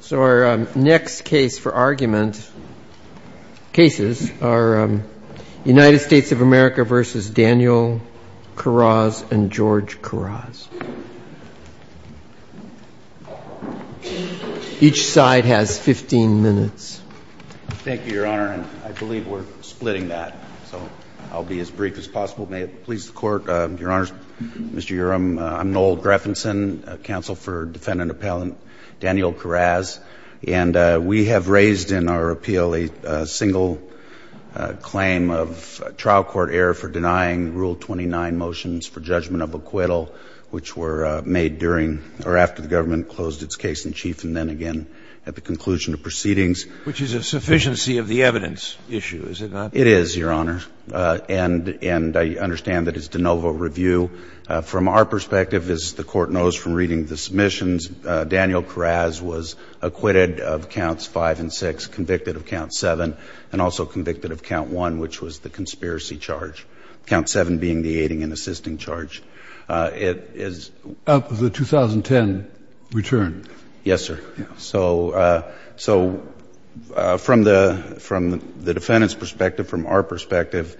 So our next case for argument, cases, are United States of America v. Daniel Kiraz and George Kiraz. Each side has 15 minutes. Thank you, Your Honor, and I believe we're splitting that, so I'll be as brief as possible. May it please the Court, Your Honors, Mr. Counsel for Defendant Appellant Daniel Kiraz, and we have raised in our appeal a single claim of trial court error for denying Rule 29 motions for judgment of acquittal, which were made during or after the government closed its case in chief and then again at the conclusion of proceedings. Which is a sufficiency of the evidence issue, is it not? It is, Your Honor, and I understand that it's de novo review. From our perspective, as the Court knows from reading the submissions, Daniel Kiraz was acquitted of counts 5 and 6, convicted of count 7, and also convicted of count 1, which was the conspiracy charge, count 7 being the aiding and assisting charge. It is Up of the 2010 return? Yes, sir. So from the defendant's perspective, from our perspective,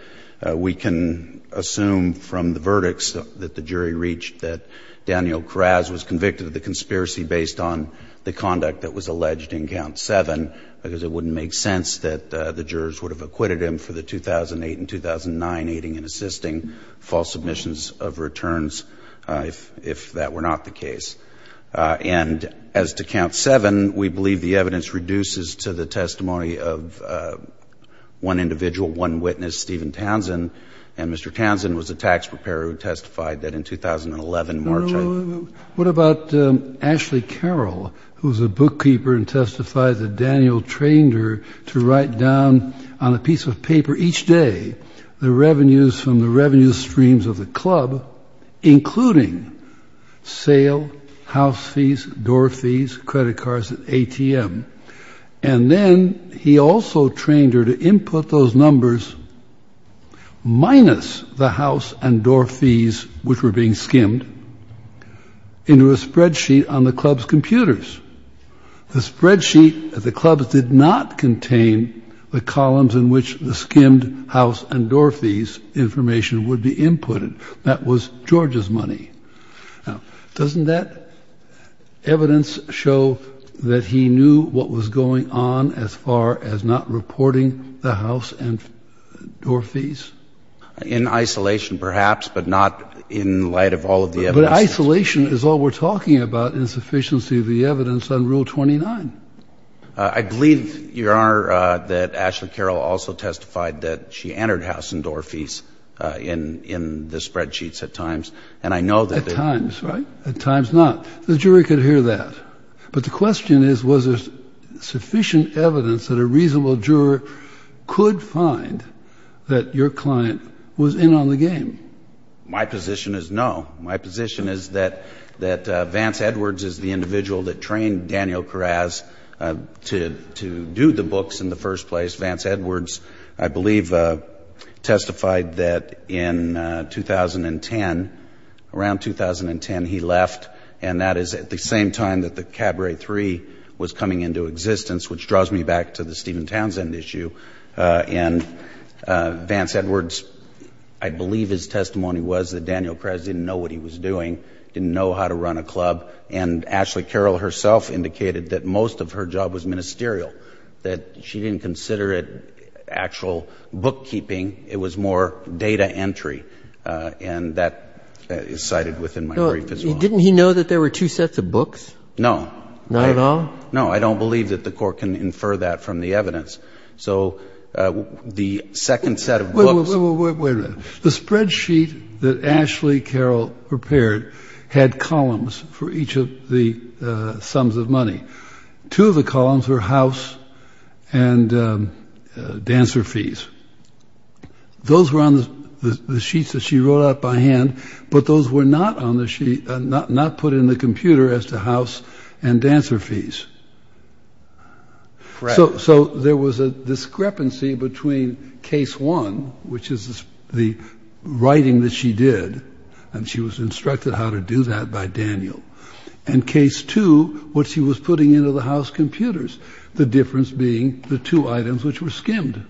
we can assume from the verdicts that the jury reached that Daniel Kiraz was convicted of the conspiracy based on the conduct that was alleged in count 7, because it wouldn't make sense that the jurors would have acquitted him for the 2008 and 2009 aiding and assisting false submissions of returns if that were not the case. And as to count 7, we believe the evidence reduces to the testimony of one individual, one witness, Stephen Townsend, and Mr. Townsend was a tax preparer who testified that in 2011, March of 2011. What about Ashley Carroll, who was a bookkeeper and testified that Daniel trained her to write down on a piece of paper each day the revenues from the revenue streams of the club, including sale, house fees, door fees, credit cards, and ATM. And then he also trained her to input those numbers minus the house and door fees, which were being skimmed into a spreadsheet on the club's computers. The spreadsheet at the club did not contain the columns in which the skimmed house and door fees information would be inputted. That was George's money. Now, doesn't that evidence show that he knew what was going on as far as not reporting the house and door fees? In isolation, perhaps, but not in light of all of the evidence. But isolation is all we're talking about, insufficiency of the evidence on Rule 29. I believe, Your Honor, that Ashley Carroll also testified that she entered house and door fees into the spreadsheets at times. And I know that they're— At times, right? At times not. The jury could hear that. But the question is, was there sufficient evidence that a reasonable juror could find that your client was in on the game? My position is no. My position is that Vance Edwards is the individual that trained Daniel Kress. Vance Edwards, I believe, testified that in 2010, around 2010, he left. And that is at the same time that the Cabaret III was coming into existence, which draws me back to the Stephen Townsend issue. And Vance Edwards, I believe his testimony was that Daniel Kress didn't know what he was doing, didn't know how to run a club. And Ashley Carroll herself indicated that most of her job was ministerial, that she didn't consider it actual bookkeeping. It was more data entry. And that is cited within my brief as well. Didn't he know that there were two sets of books? No. Not at all? No. I don't believe that the Court can infer that from the evidence. So the second set of books— Wait a minute. The spreadsheet that Ashley Carroll prepared had columns for each of the sums of money. Two of the columns were house and dancer fees. Those were on the sheets that she wrote out by hand, but those were not put in the computer as to house and dancer fees. Correct. So there was a discrepancy between case one, which is the writing that she did, and she was instructed how to do that by Daniel, and case two, what she was putting into the house computers, the difference being the two items which were skimmed.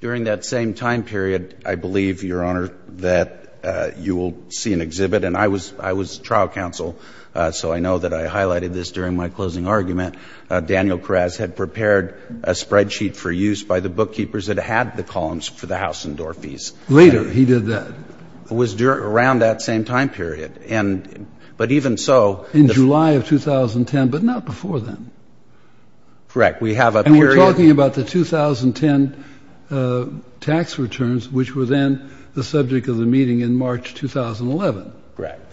During that same time period, I believe, Your Honor, that you will see an exhibit. And I was trial counsel, so I know that I highlighted this during my closing argument. Daniel Kress had prepared a spreadsheet for use by the bookkeepers that had the columns for the house and door fees. Later, he did that. It was around that same time period. But even so— In July of 2010, but not before then. Correct. We have a period— And we're talking about the 2010 tax returns, which were then the subject of the meeting in March 2011. Correct.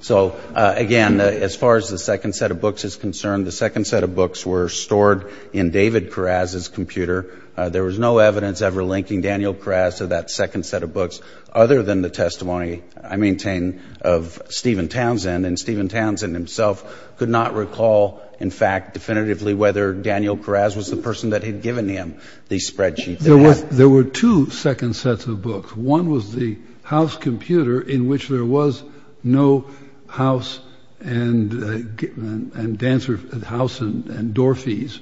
So, again, as far as the second set of books is concerned, the second set of books were stored in David Kress's computer. There was no evidence ever linking Daniel Kress to that second set of books, other than the testimony, I maintain, of Stephen Townsend. And Stephen Townsend himself could not recall, in fact, definitively whether Daniel Kress was the person that had given him the spreadsheet that he had. There were two second sets of books. One was the house computer, in which there was no house and—and dancer—house and door fees,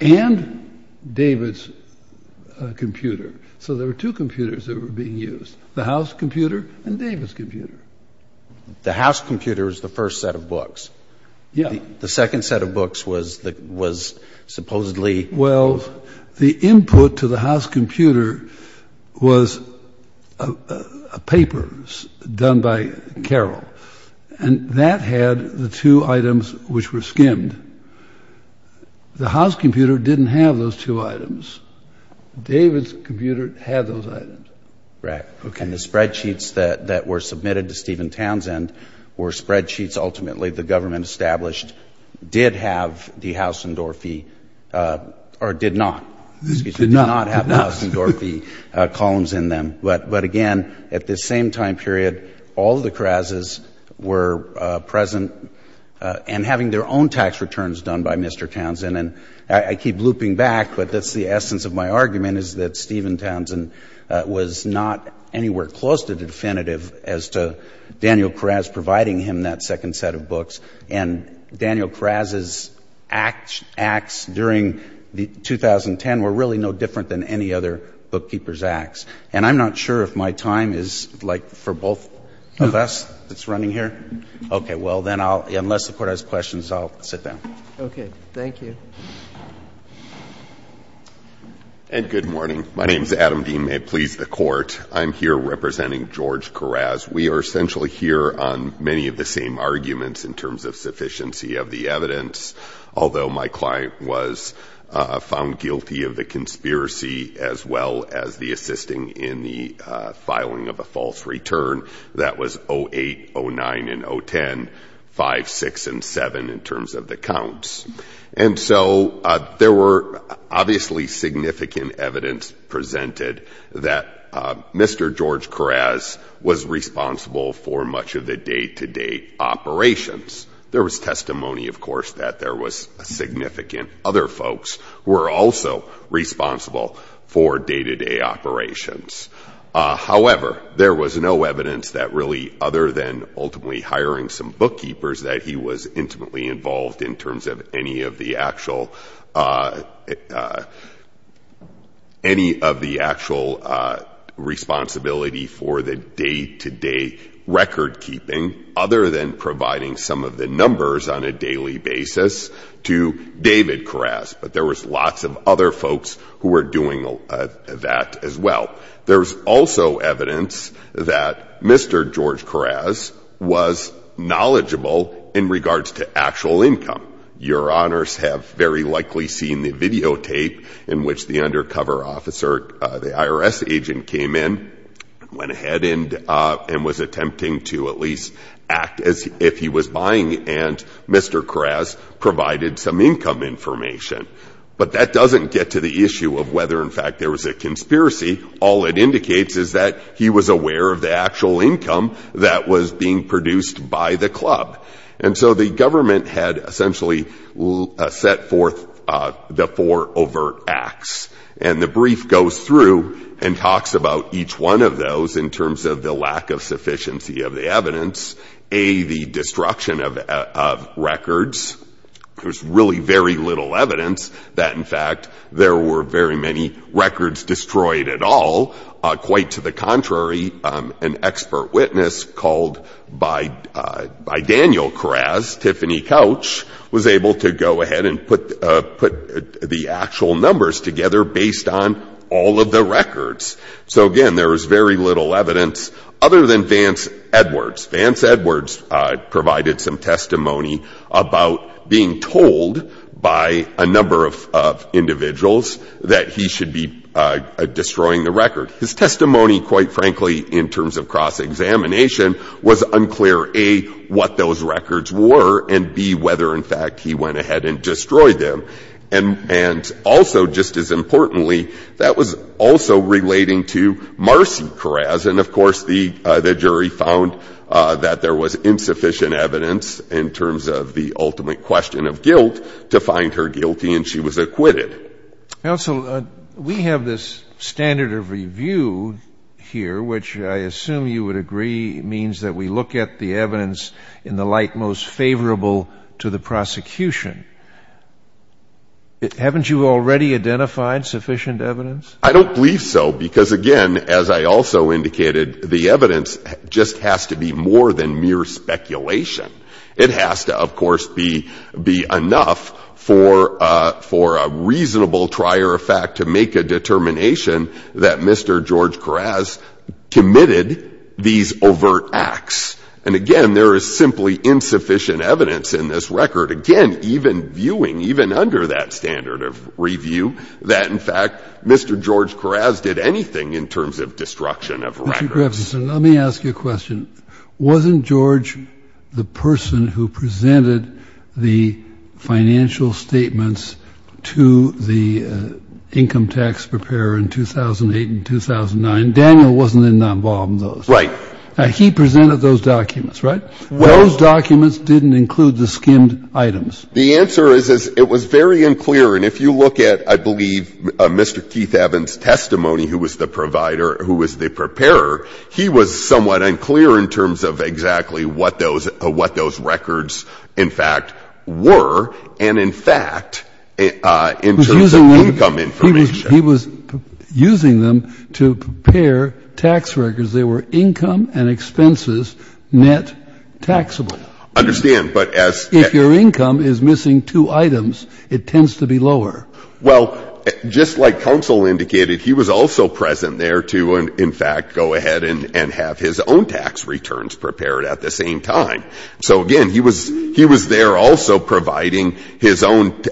and David's computer. So there were two computers that were being used, the house computer and David's computer. The house computer is the first set of books. Yeah. The second set of books was the—was supposedly— Well, the input to the house computer was a paper done by Carroll. And that had the two items which were skimmed. The house computer didn't have those two items. David's computer had those items. Right. And the spreadsheets that were submitted to Stephen Townsend were spreadsheets ultimately the government established did have the house and door fee—or did not. Excuse me. Did not. Did not have the house and door fee columns in them. But again, at this same time period, all the Kress's were present and having their own tax returns done by Mr. Townsend. And I keep looping back, but that's the essence of my argument, is that Stephen Townsend was not anywhere close to definitive as to Daniel Kress providing him that second set of books. And Daniel Kress's acts during the 2010 were really no different than any other bookkeeper's acts. And I'm not sure if my time is, like, for both of us that's running here. Okay. Well, then I'll—unless the Court has questions, I'll sit down. Okay. Thank you. And good morning. My name is Adam Dean. May it please the Court, I'm here representing George Keras. We are essentially here on many of the same arguments in terms of sufficiency of the evidence. Although my client was found guilty of the conspiracy as well as the assisting in the filing of a false return that was 08, 09, and 010, 05, 06, and 07 in terms of the counts. And so there were obviously significant evidence presented that Mr. George Keras was responsible for much of the day-to-day operations. There was testimony, of course, that there was significant other folks who were also responsible for day-to-day operations. However, there was no evidence that really other than ultimately hiring some bookkeepers that he was intimately involved in terms of any of the actual responsibility for the day-to-day to David Keras. But there was lots of other folks who were doing that as well. There's also evidence that Mr. George Keras was knowledgeable in regards to actual income. Your Honors have very likely seen the videotape in which the undercover officer, the IRS agent, came in, went ahead and was attempting to at least act as if he was buying. And Mr. Keras provided some income information. But that doesn't get to the issue of whether, in fact, there was a conspiracy. All it indicates is that he was aware of the actual income that was being produced by the club. And so the government had essentially set forth the four overt acts. And the brief goes through and talks about each one of those in terms of the lack of sufficiency of the evidence, a, the destruction of records. There was really very little evidence that, in fact, there were very many records destroyed at all. Quite to the contrary, an expert witness called by Daniel Keras, Tiffany Couch, was able to go ahead and put the actual numbers together based on all of the records. So again, there was very little evidence other than Vance Edwards. Vance Edwards provided some testimony about being told by a number of individuals that he should be destroying the record. His testimony, quite frankly, in terms of cross-examination, was unclear, a, what those records were, and b, whether, in fact, he went ahead and destroyed them. And also, just as importantly, that was also relating to Marcy Keras. And, of course, the jury found that there was insufficient evidence in terms of the ultimate question of guilt to find her guilty, and she was acquitted. Scalia. Counsel, we have this standard of review here, which I assume you would agree means that we look at the evidence in the light most favorable to the prosecution. Haven't you already identified sufficient evidence? McConnell. I don't believe so, because again, as I also indicated, the evidence just has to be more than mere speculation. It has to, of course, be enough for a reasonable trier of fact to make a determination that Mr. George Keras committed these overt acts. And again, there is simply insufficient evidence in this record, again, even viewing, even under that standard of review, that, in fact, Mr. George Keras did anything in terms of destruction of records. Kennedy. Mr. Grafson, let me ask you a question. Wasn't George the person who presented the financial statements to the income tax preparer in 2008 and 2009? Daniel wasn't involved in those. Grafson. Right. Kennedy. He presented those documents, right? Those documents didn't include the skimmed items. Grafson. The answer is it was very unclear. And if you look at, I believe, Mr. Keith Evans' testimony, who was the provider, who was the preparer, he was somewhat unclear in terms of exactly what those records, in fact, were, and in fact, in terms of income information. He was using them to prepare tax records. They were income and expenses net taxable. Grafson. I understand, but as... Kennedy. If your income is missing two items, it tends to be lower. Grafson. Well, just like counsel indicated, he was also present there to, in fact, go ahead and have his own tax returns prepared at the same time. So, again, he was there also providing his own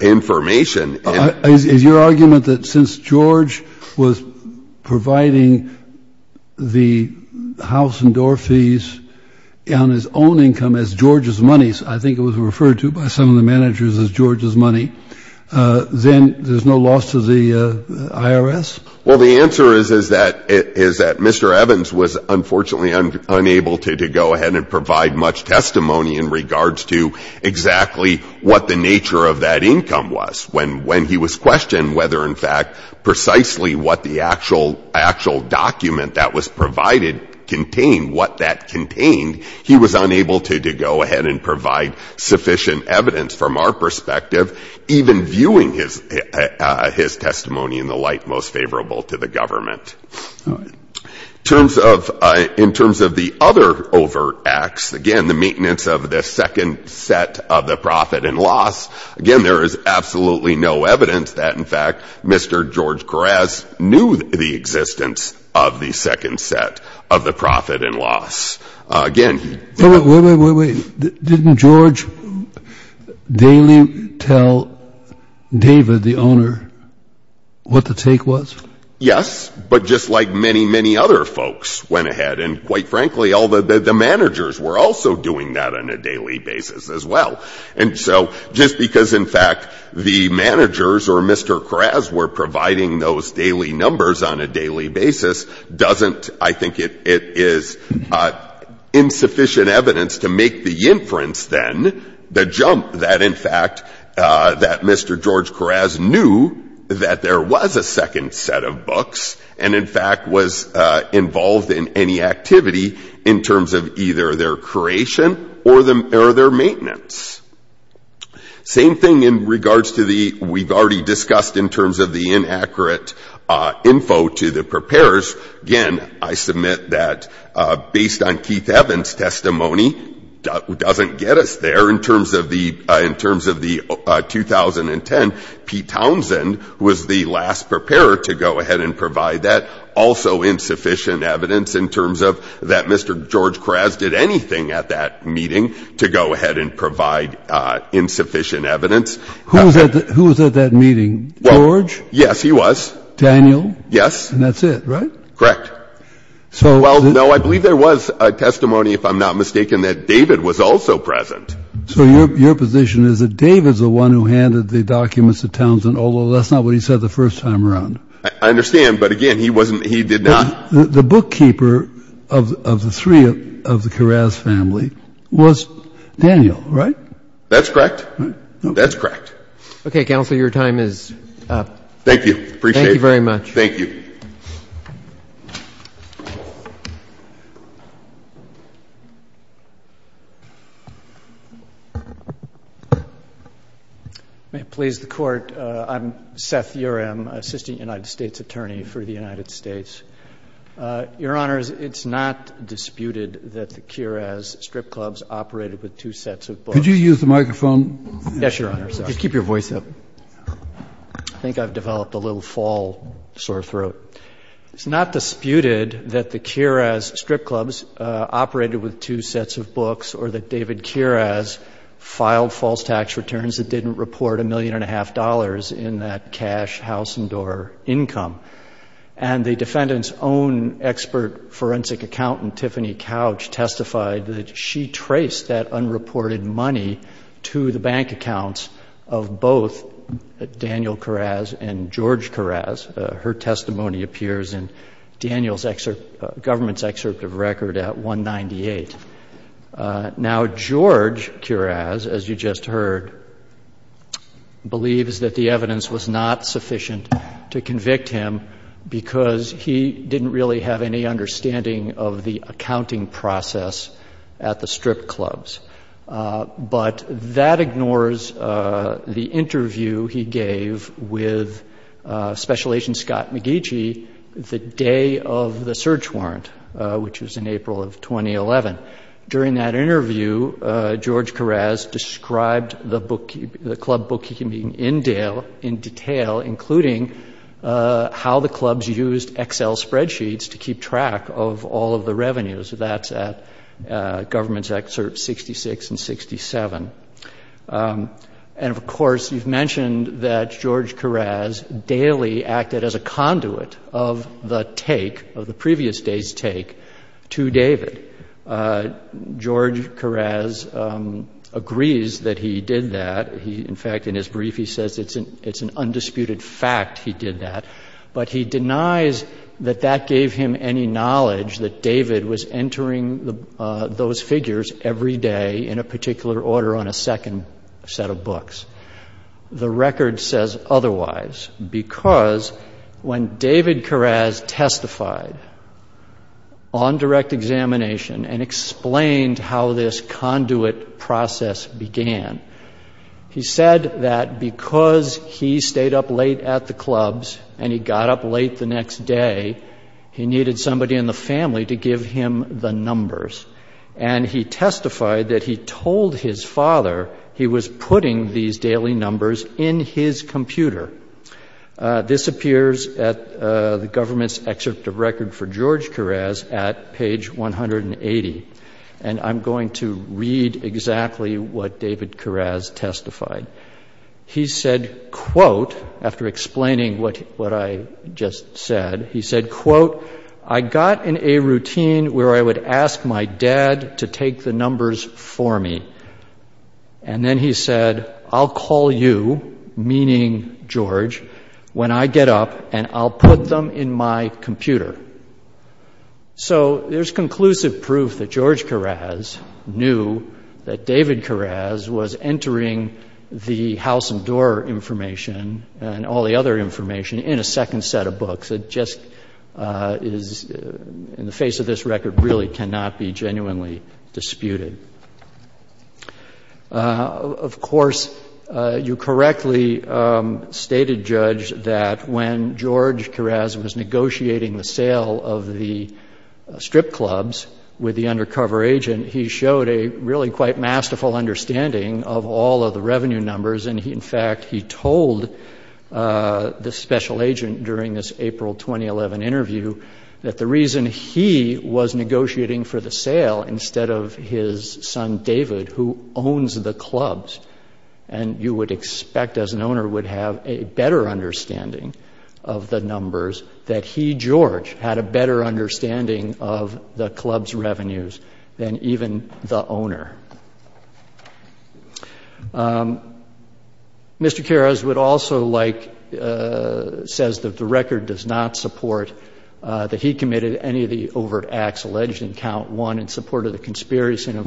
information. Kennedy. Is your argument that since George was providing the house and door fees on his own income as George's money, I think it was referred to by some of the managers as George's money, then there's no loss to the IRS? Grafson. Well, the answer is that Mr. Evans was, unfortunately, unable to go ahead and what the nature of that income was. When he was questioned whether, in fact, precisely what the actual document that was provided contained, what that contained, he was unable to go ahead and provide sufficient evidence from our perspective, even viewing his testimony in the light most favorable to the government. Kennedy. All right. In terms of the other overt acts, again, the maintenance of the second set of the profit and loss, again, there is absolutely no evidence that, in fact, Mr. George Keras knew the existence of the second set of the profit and loss. Again... Grafson. Wait, wait, wait. Didn't George daily tell David, the owner, what the take was? Yes, but just like many, many other folks went ahead and, quite frankly, all the managers were also doing that on a daily basis as well. And so just because, in fact, the managers or Mr. Keras were providing those daily numbers on a daily basis doesn't, I think it is insufficient evidence to make the inference, then, the jump that, in fact, that Mr. George Keras knew that there was a second set of books and, in fact, was involved in any activity in terms of either their creation or their maintenance. Same thing in regards to the, we've already discussed in terms of the inaccurate info to the preparers. Again, I submit that based on Keith Evans' testimony doesn't get us there in terms of the 2010. Pete Townsend was the last preparer to go ahead and provide that also insufficient evidence in terms of that Mr. George Keras did anything at that meeting to go ahead and provide insufficient evidence. Who was at that meeting? George? Yes, he was. Daniel? Yes. And that's it, right? Correct. Well, no, I believe there was a testimony, if I'm not mistaken, that David was also present. So your position is that David's the one who handed the documents to Townsend, although that's not what he said the first time around. I understand, but, again, he wasn't, he did not. The bookkeeper of the three of the Keras family was Daniel, right? That's correct. That's correct. Okay, Counselor, your time is up. Thank you. Appreciate it. Thank you very much. Thank you. May it please the Court, I'm Seth Uram, Assistant United States Attorney for the United States. Your Honors, it's not disputed that the Keras strip clubs operated with two sets of books. Could you use the microphone? Yes, Your Honors. Just keep your voice up. I think I've developed a little fall sore throat. It's not disputed that the Keras strip clubs operated with two sets of books or that David Keras filed false tax returns that didn't report a million and a half dollars in that cash house and door income, and the defendant's own expert forensic accountant, Tiffany Couch, testified that she traced that unreported money to the bank accounts of both Daniel Keras and George Keras. Her testimony appears in Daniel's government's excerpt of record at 198. Now, George Keras, as you just heard, believes that the evidence was not sufficient to convict him because he didn't really have any understanding of the accounting process at the strip clubs. But that ignores the interview he gave with Special Agent Scott McGeechee the day of the search During that interview, George Keras described the club bookkeeping in detail, including how the clubs used Excel spreadsheets to keep track of all of the revenues. That's at government's excerpts 66 and 67. And, of course, you've mentioned that George Keras daily acted as a conduit of the take, to David. George Keras agrees that he did that. In fact, in his brief, he says it's an undisputed fact he did that. But he denies that that gave him any knowledge that David was entering those figures every day in a particular order on a second set of books. The record says otherwise because when David Keras testified on direct examination and explained how this conduit process began, he said that because he stayed up late at the clubs and he got up late the next day, he needed somebody in the family to in his computer. This appears at the government's excerpt of record for George Keras at page 180. And I'm going to read exactly what David Keras testified. He said, quote, after explaining what I just said, he said, quote, I got in a routine where I would ask my dad to take the numbers for me. And then he said, I'll call you, meaning George, when I get up and I'll put them in my computer. So there's conclusive proof that George Keras knew that David Keras was entering the house and door information and all the other information in a second set of books. It just is in the face of this record really cannot be genuinely disputed. Of course, you correctly stated, Judge, that when George Keras was negotiating the sale of the strip clubs with the undercover agent, he showed a really quite masterful understanding of all of revenue numbers. And in fact, he told the special agent during this April 2011 interview that the reason he was negotiating for the sale instead of his son, David, who owns the clubs, and you would expect as an owner would have a better understanding of the numbers, that he, George, had a better understanding of the club's revenues than even the owner. Mr. Keras would also like to say that the record does not support that he committed any of the overt acts alleged in Count 1 in support of the conspiracy. And, of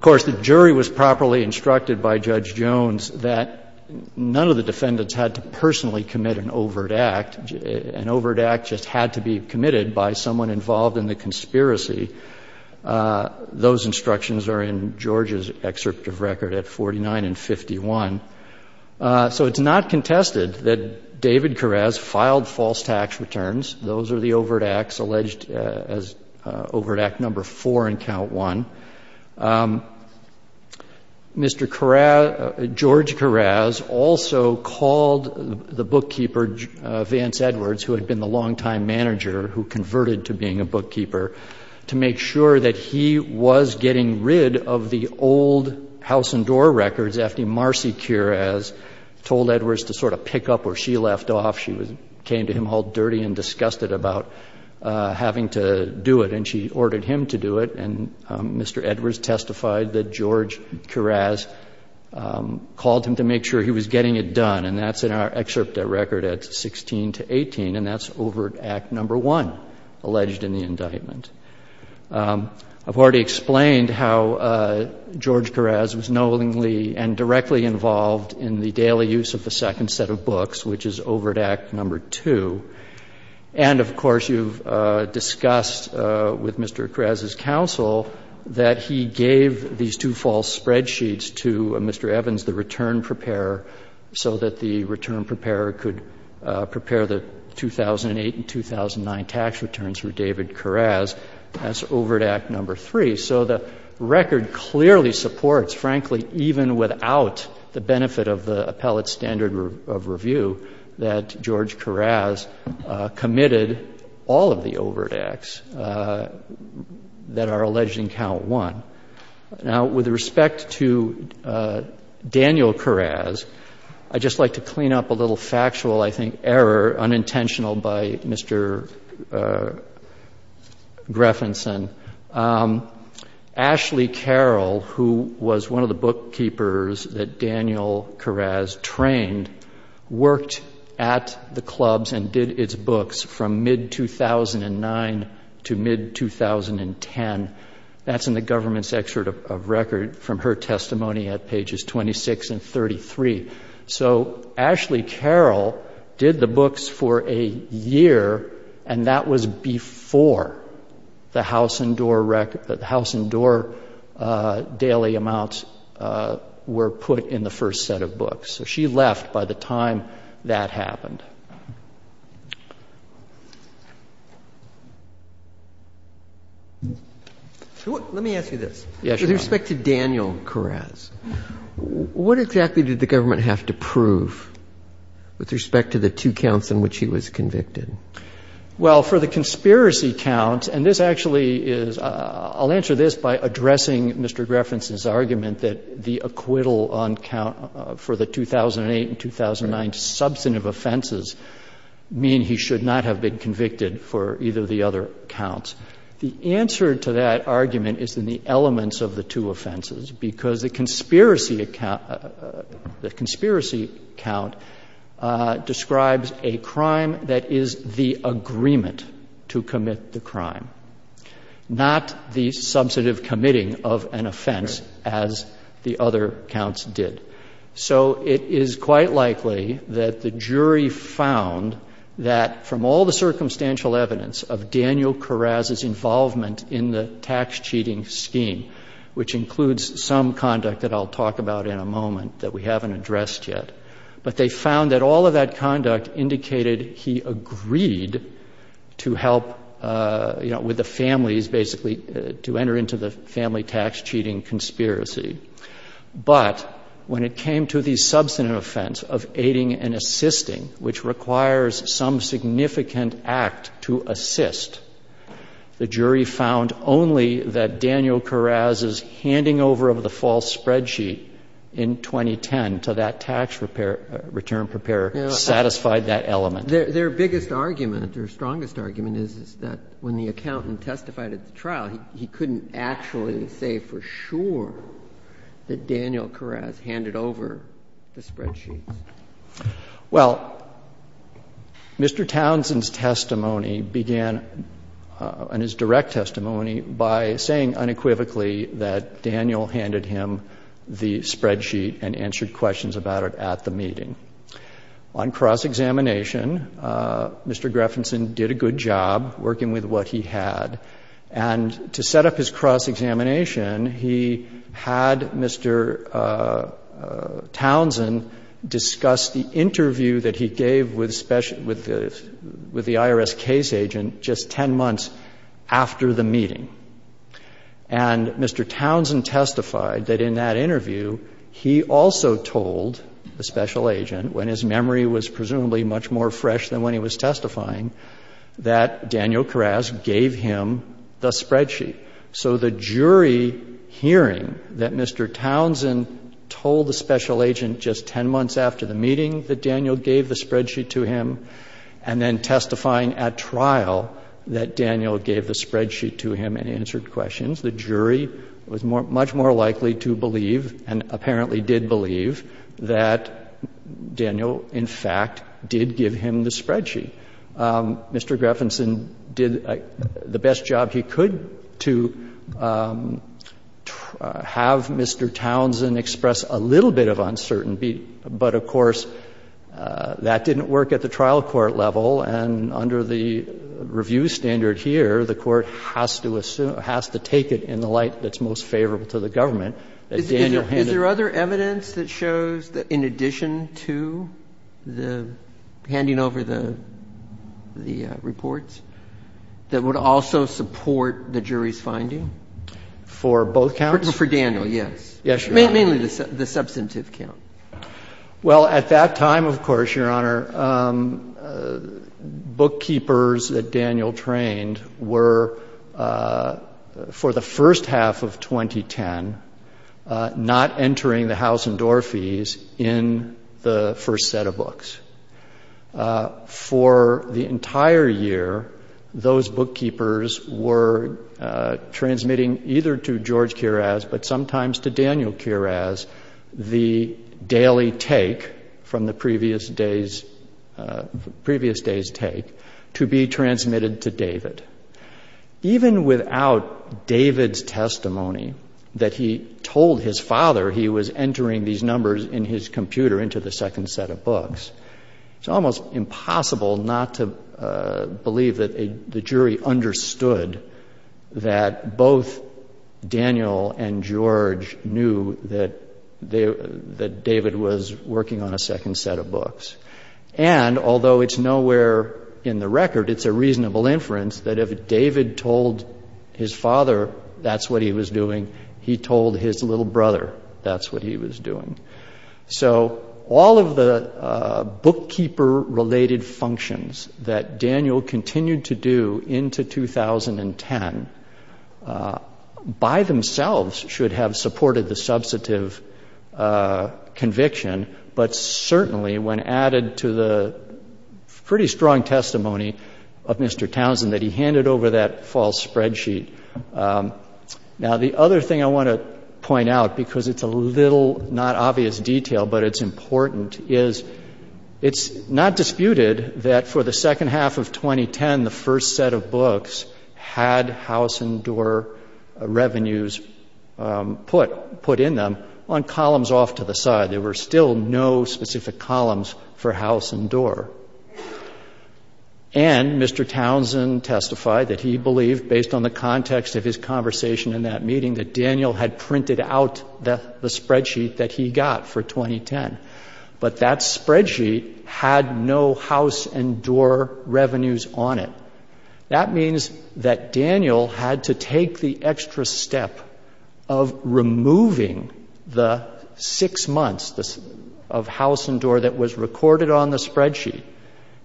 course, the jury was properly instructed by Judge Jones that none of the defendants had to personally commit an overt act. An overt act just had to be committed by someone involved in the conspiracy. Those instructions are in George's excerpt of record at 49 and 51. So it's not contested that David Keras filed false tax returns. Those are the overt acts alleged as overt act number four in Count 1. Mr. Keras, George Keras, also called the bookkeeper, Vance Edwards, who had been the longtime manager who converted to being a bookkeeper, to make sure that he was getting rid of the old house and door records after Marcy Keras told Edwards to sort of pick up where she left off. She came to him all dirty and disgusted about having to do it, and she ordered him to do it. And Mr. Edwards testified that George Keras called him to make sure he was getting it done, and that's in our excerpt at record at 16 to 18. And that's overt act number one alleged in the indictment. I've already explained how George Keras was knowingly and directly involved in the daily use of the second set of books, which is overt act number two. And, of course, you've discussed with Mr. Keras' counsel that he gave these two false spreadsheets to Mr. Evans, the return preparer who could prepare the 2008 and 2009 tax returns for David Keras. That's overt act number three. So the record clearly supports, frankly, even without the benefit of the appellate standard of review, that George Keras committed all of the overt acts that are alleged in Count 1. Now, with respect to Daniel Keras, I'd just like to clean up a little factual, I think, error, unintentional by Mr. Greffinson. Ashley Carroll, who was one of the bookkeepers that Daniel Keras trained, worked at the clubs and did its books from mid-2009 to mid-2010. That's in the government's excerpt of record from her testimony at pages 26 and 33. So Ashley Carroll did the books for a year, and that was before the house and door daily amounts were put in the first set of books. So she left by the time that happened. Let me ask you this. Yes, Your Honor. With respect to Daniel Keras, what exactly did the government have to prove with respect to the two counts in which he was convicted? Well, for the conspiracy count, and this actually is — I'll answer this by addressing Mr. Greffinson's argument that the acquittal on count for the 2008 and 2009 substantive offenses mean he should not have been convicted for either of the other counts. The answer to that argument is in the elements of the two offenses, because the conspiracy count describes a crime that is the agreement to commit the crime, not the substantive committing of an offense as the other counts did. So it is quite likely that the jury found that from all the circumstantial evidence of Daniel Keras' involvement in the tax cheating scheme, which includes some conduct that I'll talk about in a moment that we haven't addressed yet, but they found that all of that conduct indicated he agreed to help, you know, with the families basically to enter into the family tax cheating conspiracy. But when it came to the substantive offense of aiding and assisting, which requires some significant act to assist, the jury found only that Daniel Keras' handing over of the false spreadsheet in 2010 to that tax repair — return preparer satisfied that element. Their biggest argument, or strongest argument, is that when the accountant testified at the trial, he couldn't actually say for sure that Daniel Keras handed over the spreadsheet. Well, Mr. Townsend's testimony began, in his direct testimony, by saying unequivocally that Daniel handed him the spreadsheet and answered questions about it at the meeting. On cross-examination, Mr. Greffinson did a good job working with what he had. And to set up his cross-examination, he had Mr. Townsend discuss the interview that he gave with the IRS case agent just 10 months after the meeting. And Mr. Townsend testified that in that interview, he also told the special agent, when his memory was presumably much more fresh than when he was testifying, that Daniel Keras gave him the spreadsheet. So the jury hearing that Mr. Townsend told the special agent just 10 months after the meeting that Daniel gave the spreadsheet to him and then testifying at trial that Daniel gave the spreadsheet to him and answered questions, the jury was much more likely to believe, and apparently did believe, that Daniel, in fact, did give him the spreadsheet. Mr. Greffinson did the best job he could to have Mr. Townsend express a little bit of uncertainty, but of course, that didn't work at the trial court level. And under the review standard here, the Court has to assume, has to take it in the light that's most favorable to the government, that Daniel handed it to him. The reports that would also support the jury's finding? For both counts? For Daniel, yes. Yes, Your Honor. Mainly the substantive count. Well, at that time, of course, Your Honor, bookkeepers that Daniel trained were, for the first half of 2010, not entering the house and door fees in the first set of books. For the entire year, those bookkeepers were transmitting either to George Kiras, but sometimes to Daniel Kiras, the daily take from the previous day's take to be transmitted to David. Even without David's testimony, that he told his father he was entering these numbers in his computer into the second set of books, it's almost impossible not to believe that the jury understood that both Daniel and George knew that David was working on a second set of books. And although it's nowhere in the record, it's a reasonable inference that if David told his father that's what he was doing, he told his little brother that's what he was doing. So all of the bookkeeper-related functions that Daniel continued to do into 2010 by themselves should have supported the substantive conviction, but certainly when added to the pretty strong testimony of Mr. Townsend that he handed over that false spreadsheet. Now, the other thing I want to point out, because it's a little not obvious detail, but it's important, is it's not disputed that for the second half of 2010, the first set of books had house and door revenues put in them on columns off to the side. There were still no specific columns for house and door. And Mr. Townsend testified that he believed, based on the context of his conversation in that meeting, that Daniel had printed out the spreadsheet that he got for 2010. But that spreadsheet had no house and door revenues on it. That means that Daniel had to take the extra step of removing the six months of house and door that was recorded on the spreadsheet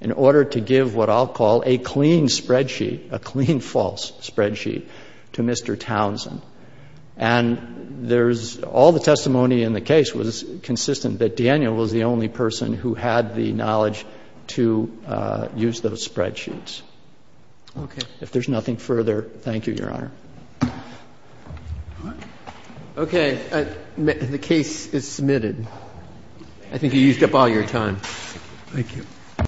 in order to give what I'll call a clean spreadsheet, a clean false spreadsheet, to Mr. Townsend. And there's all the testimony in the case was consistent that Daniel was the only person who had the knowledge to use those spreadsheets. Okay. If there's nothing further, thank you, Your Honor. Okay. The case is submitted. I think you used up all your time. Thank you.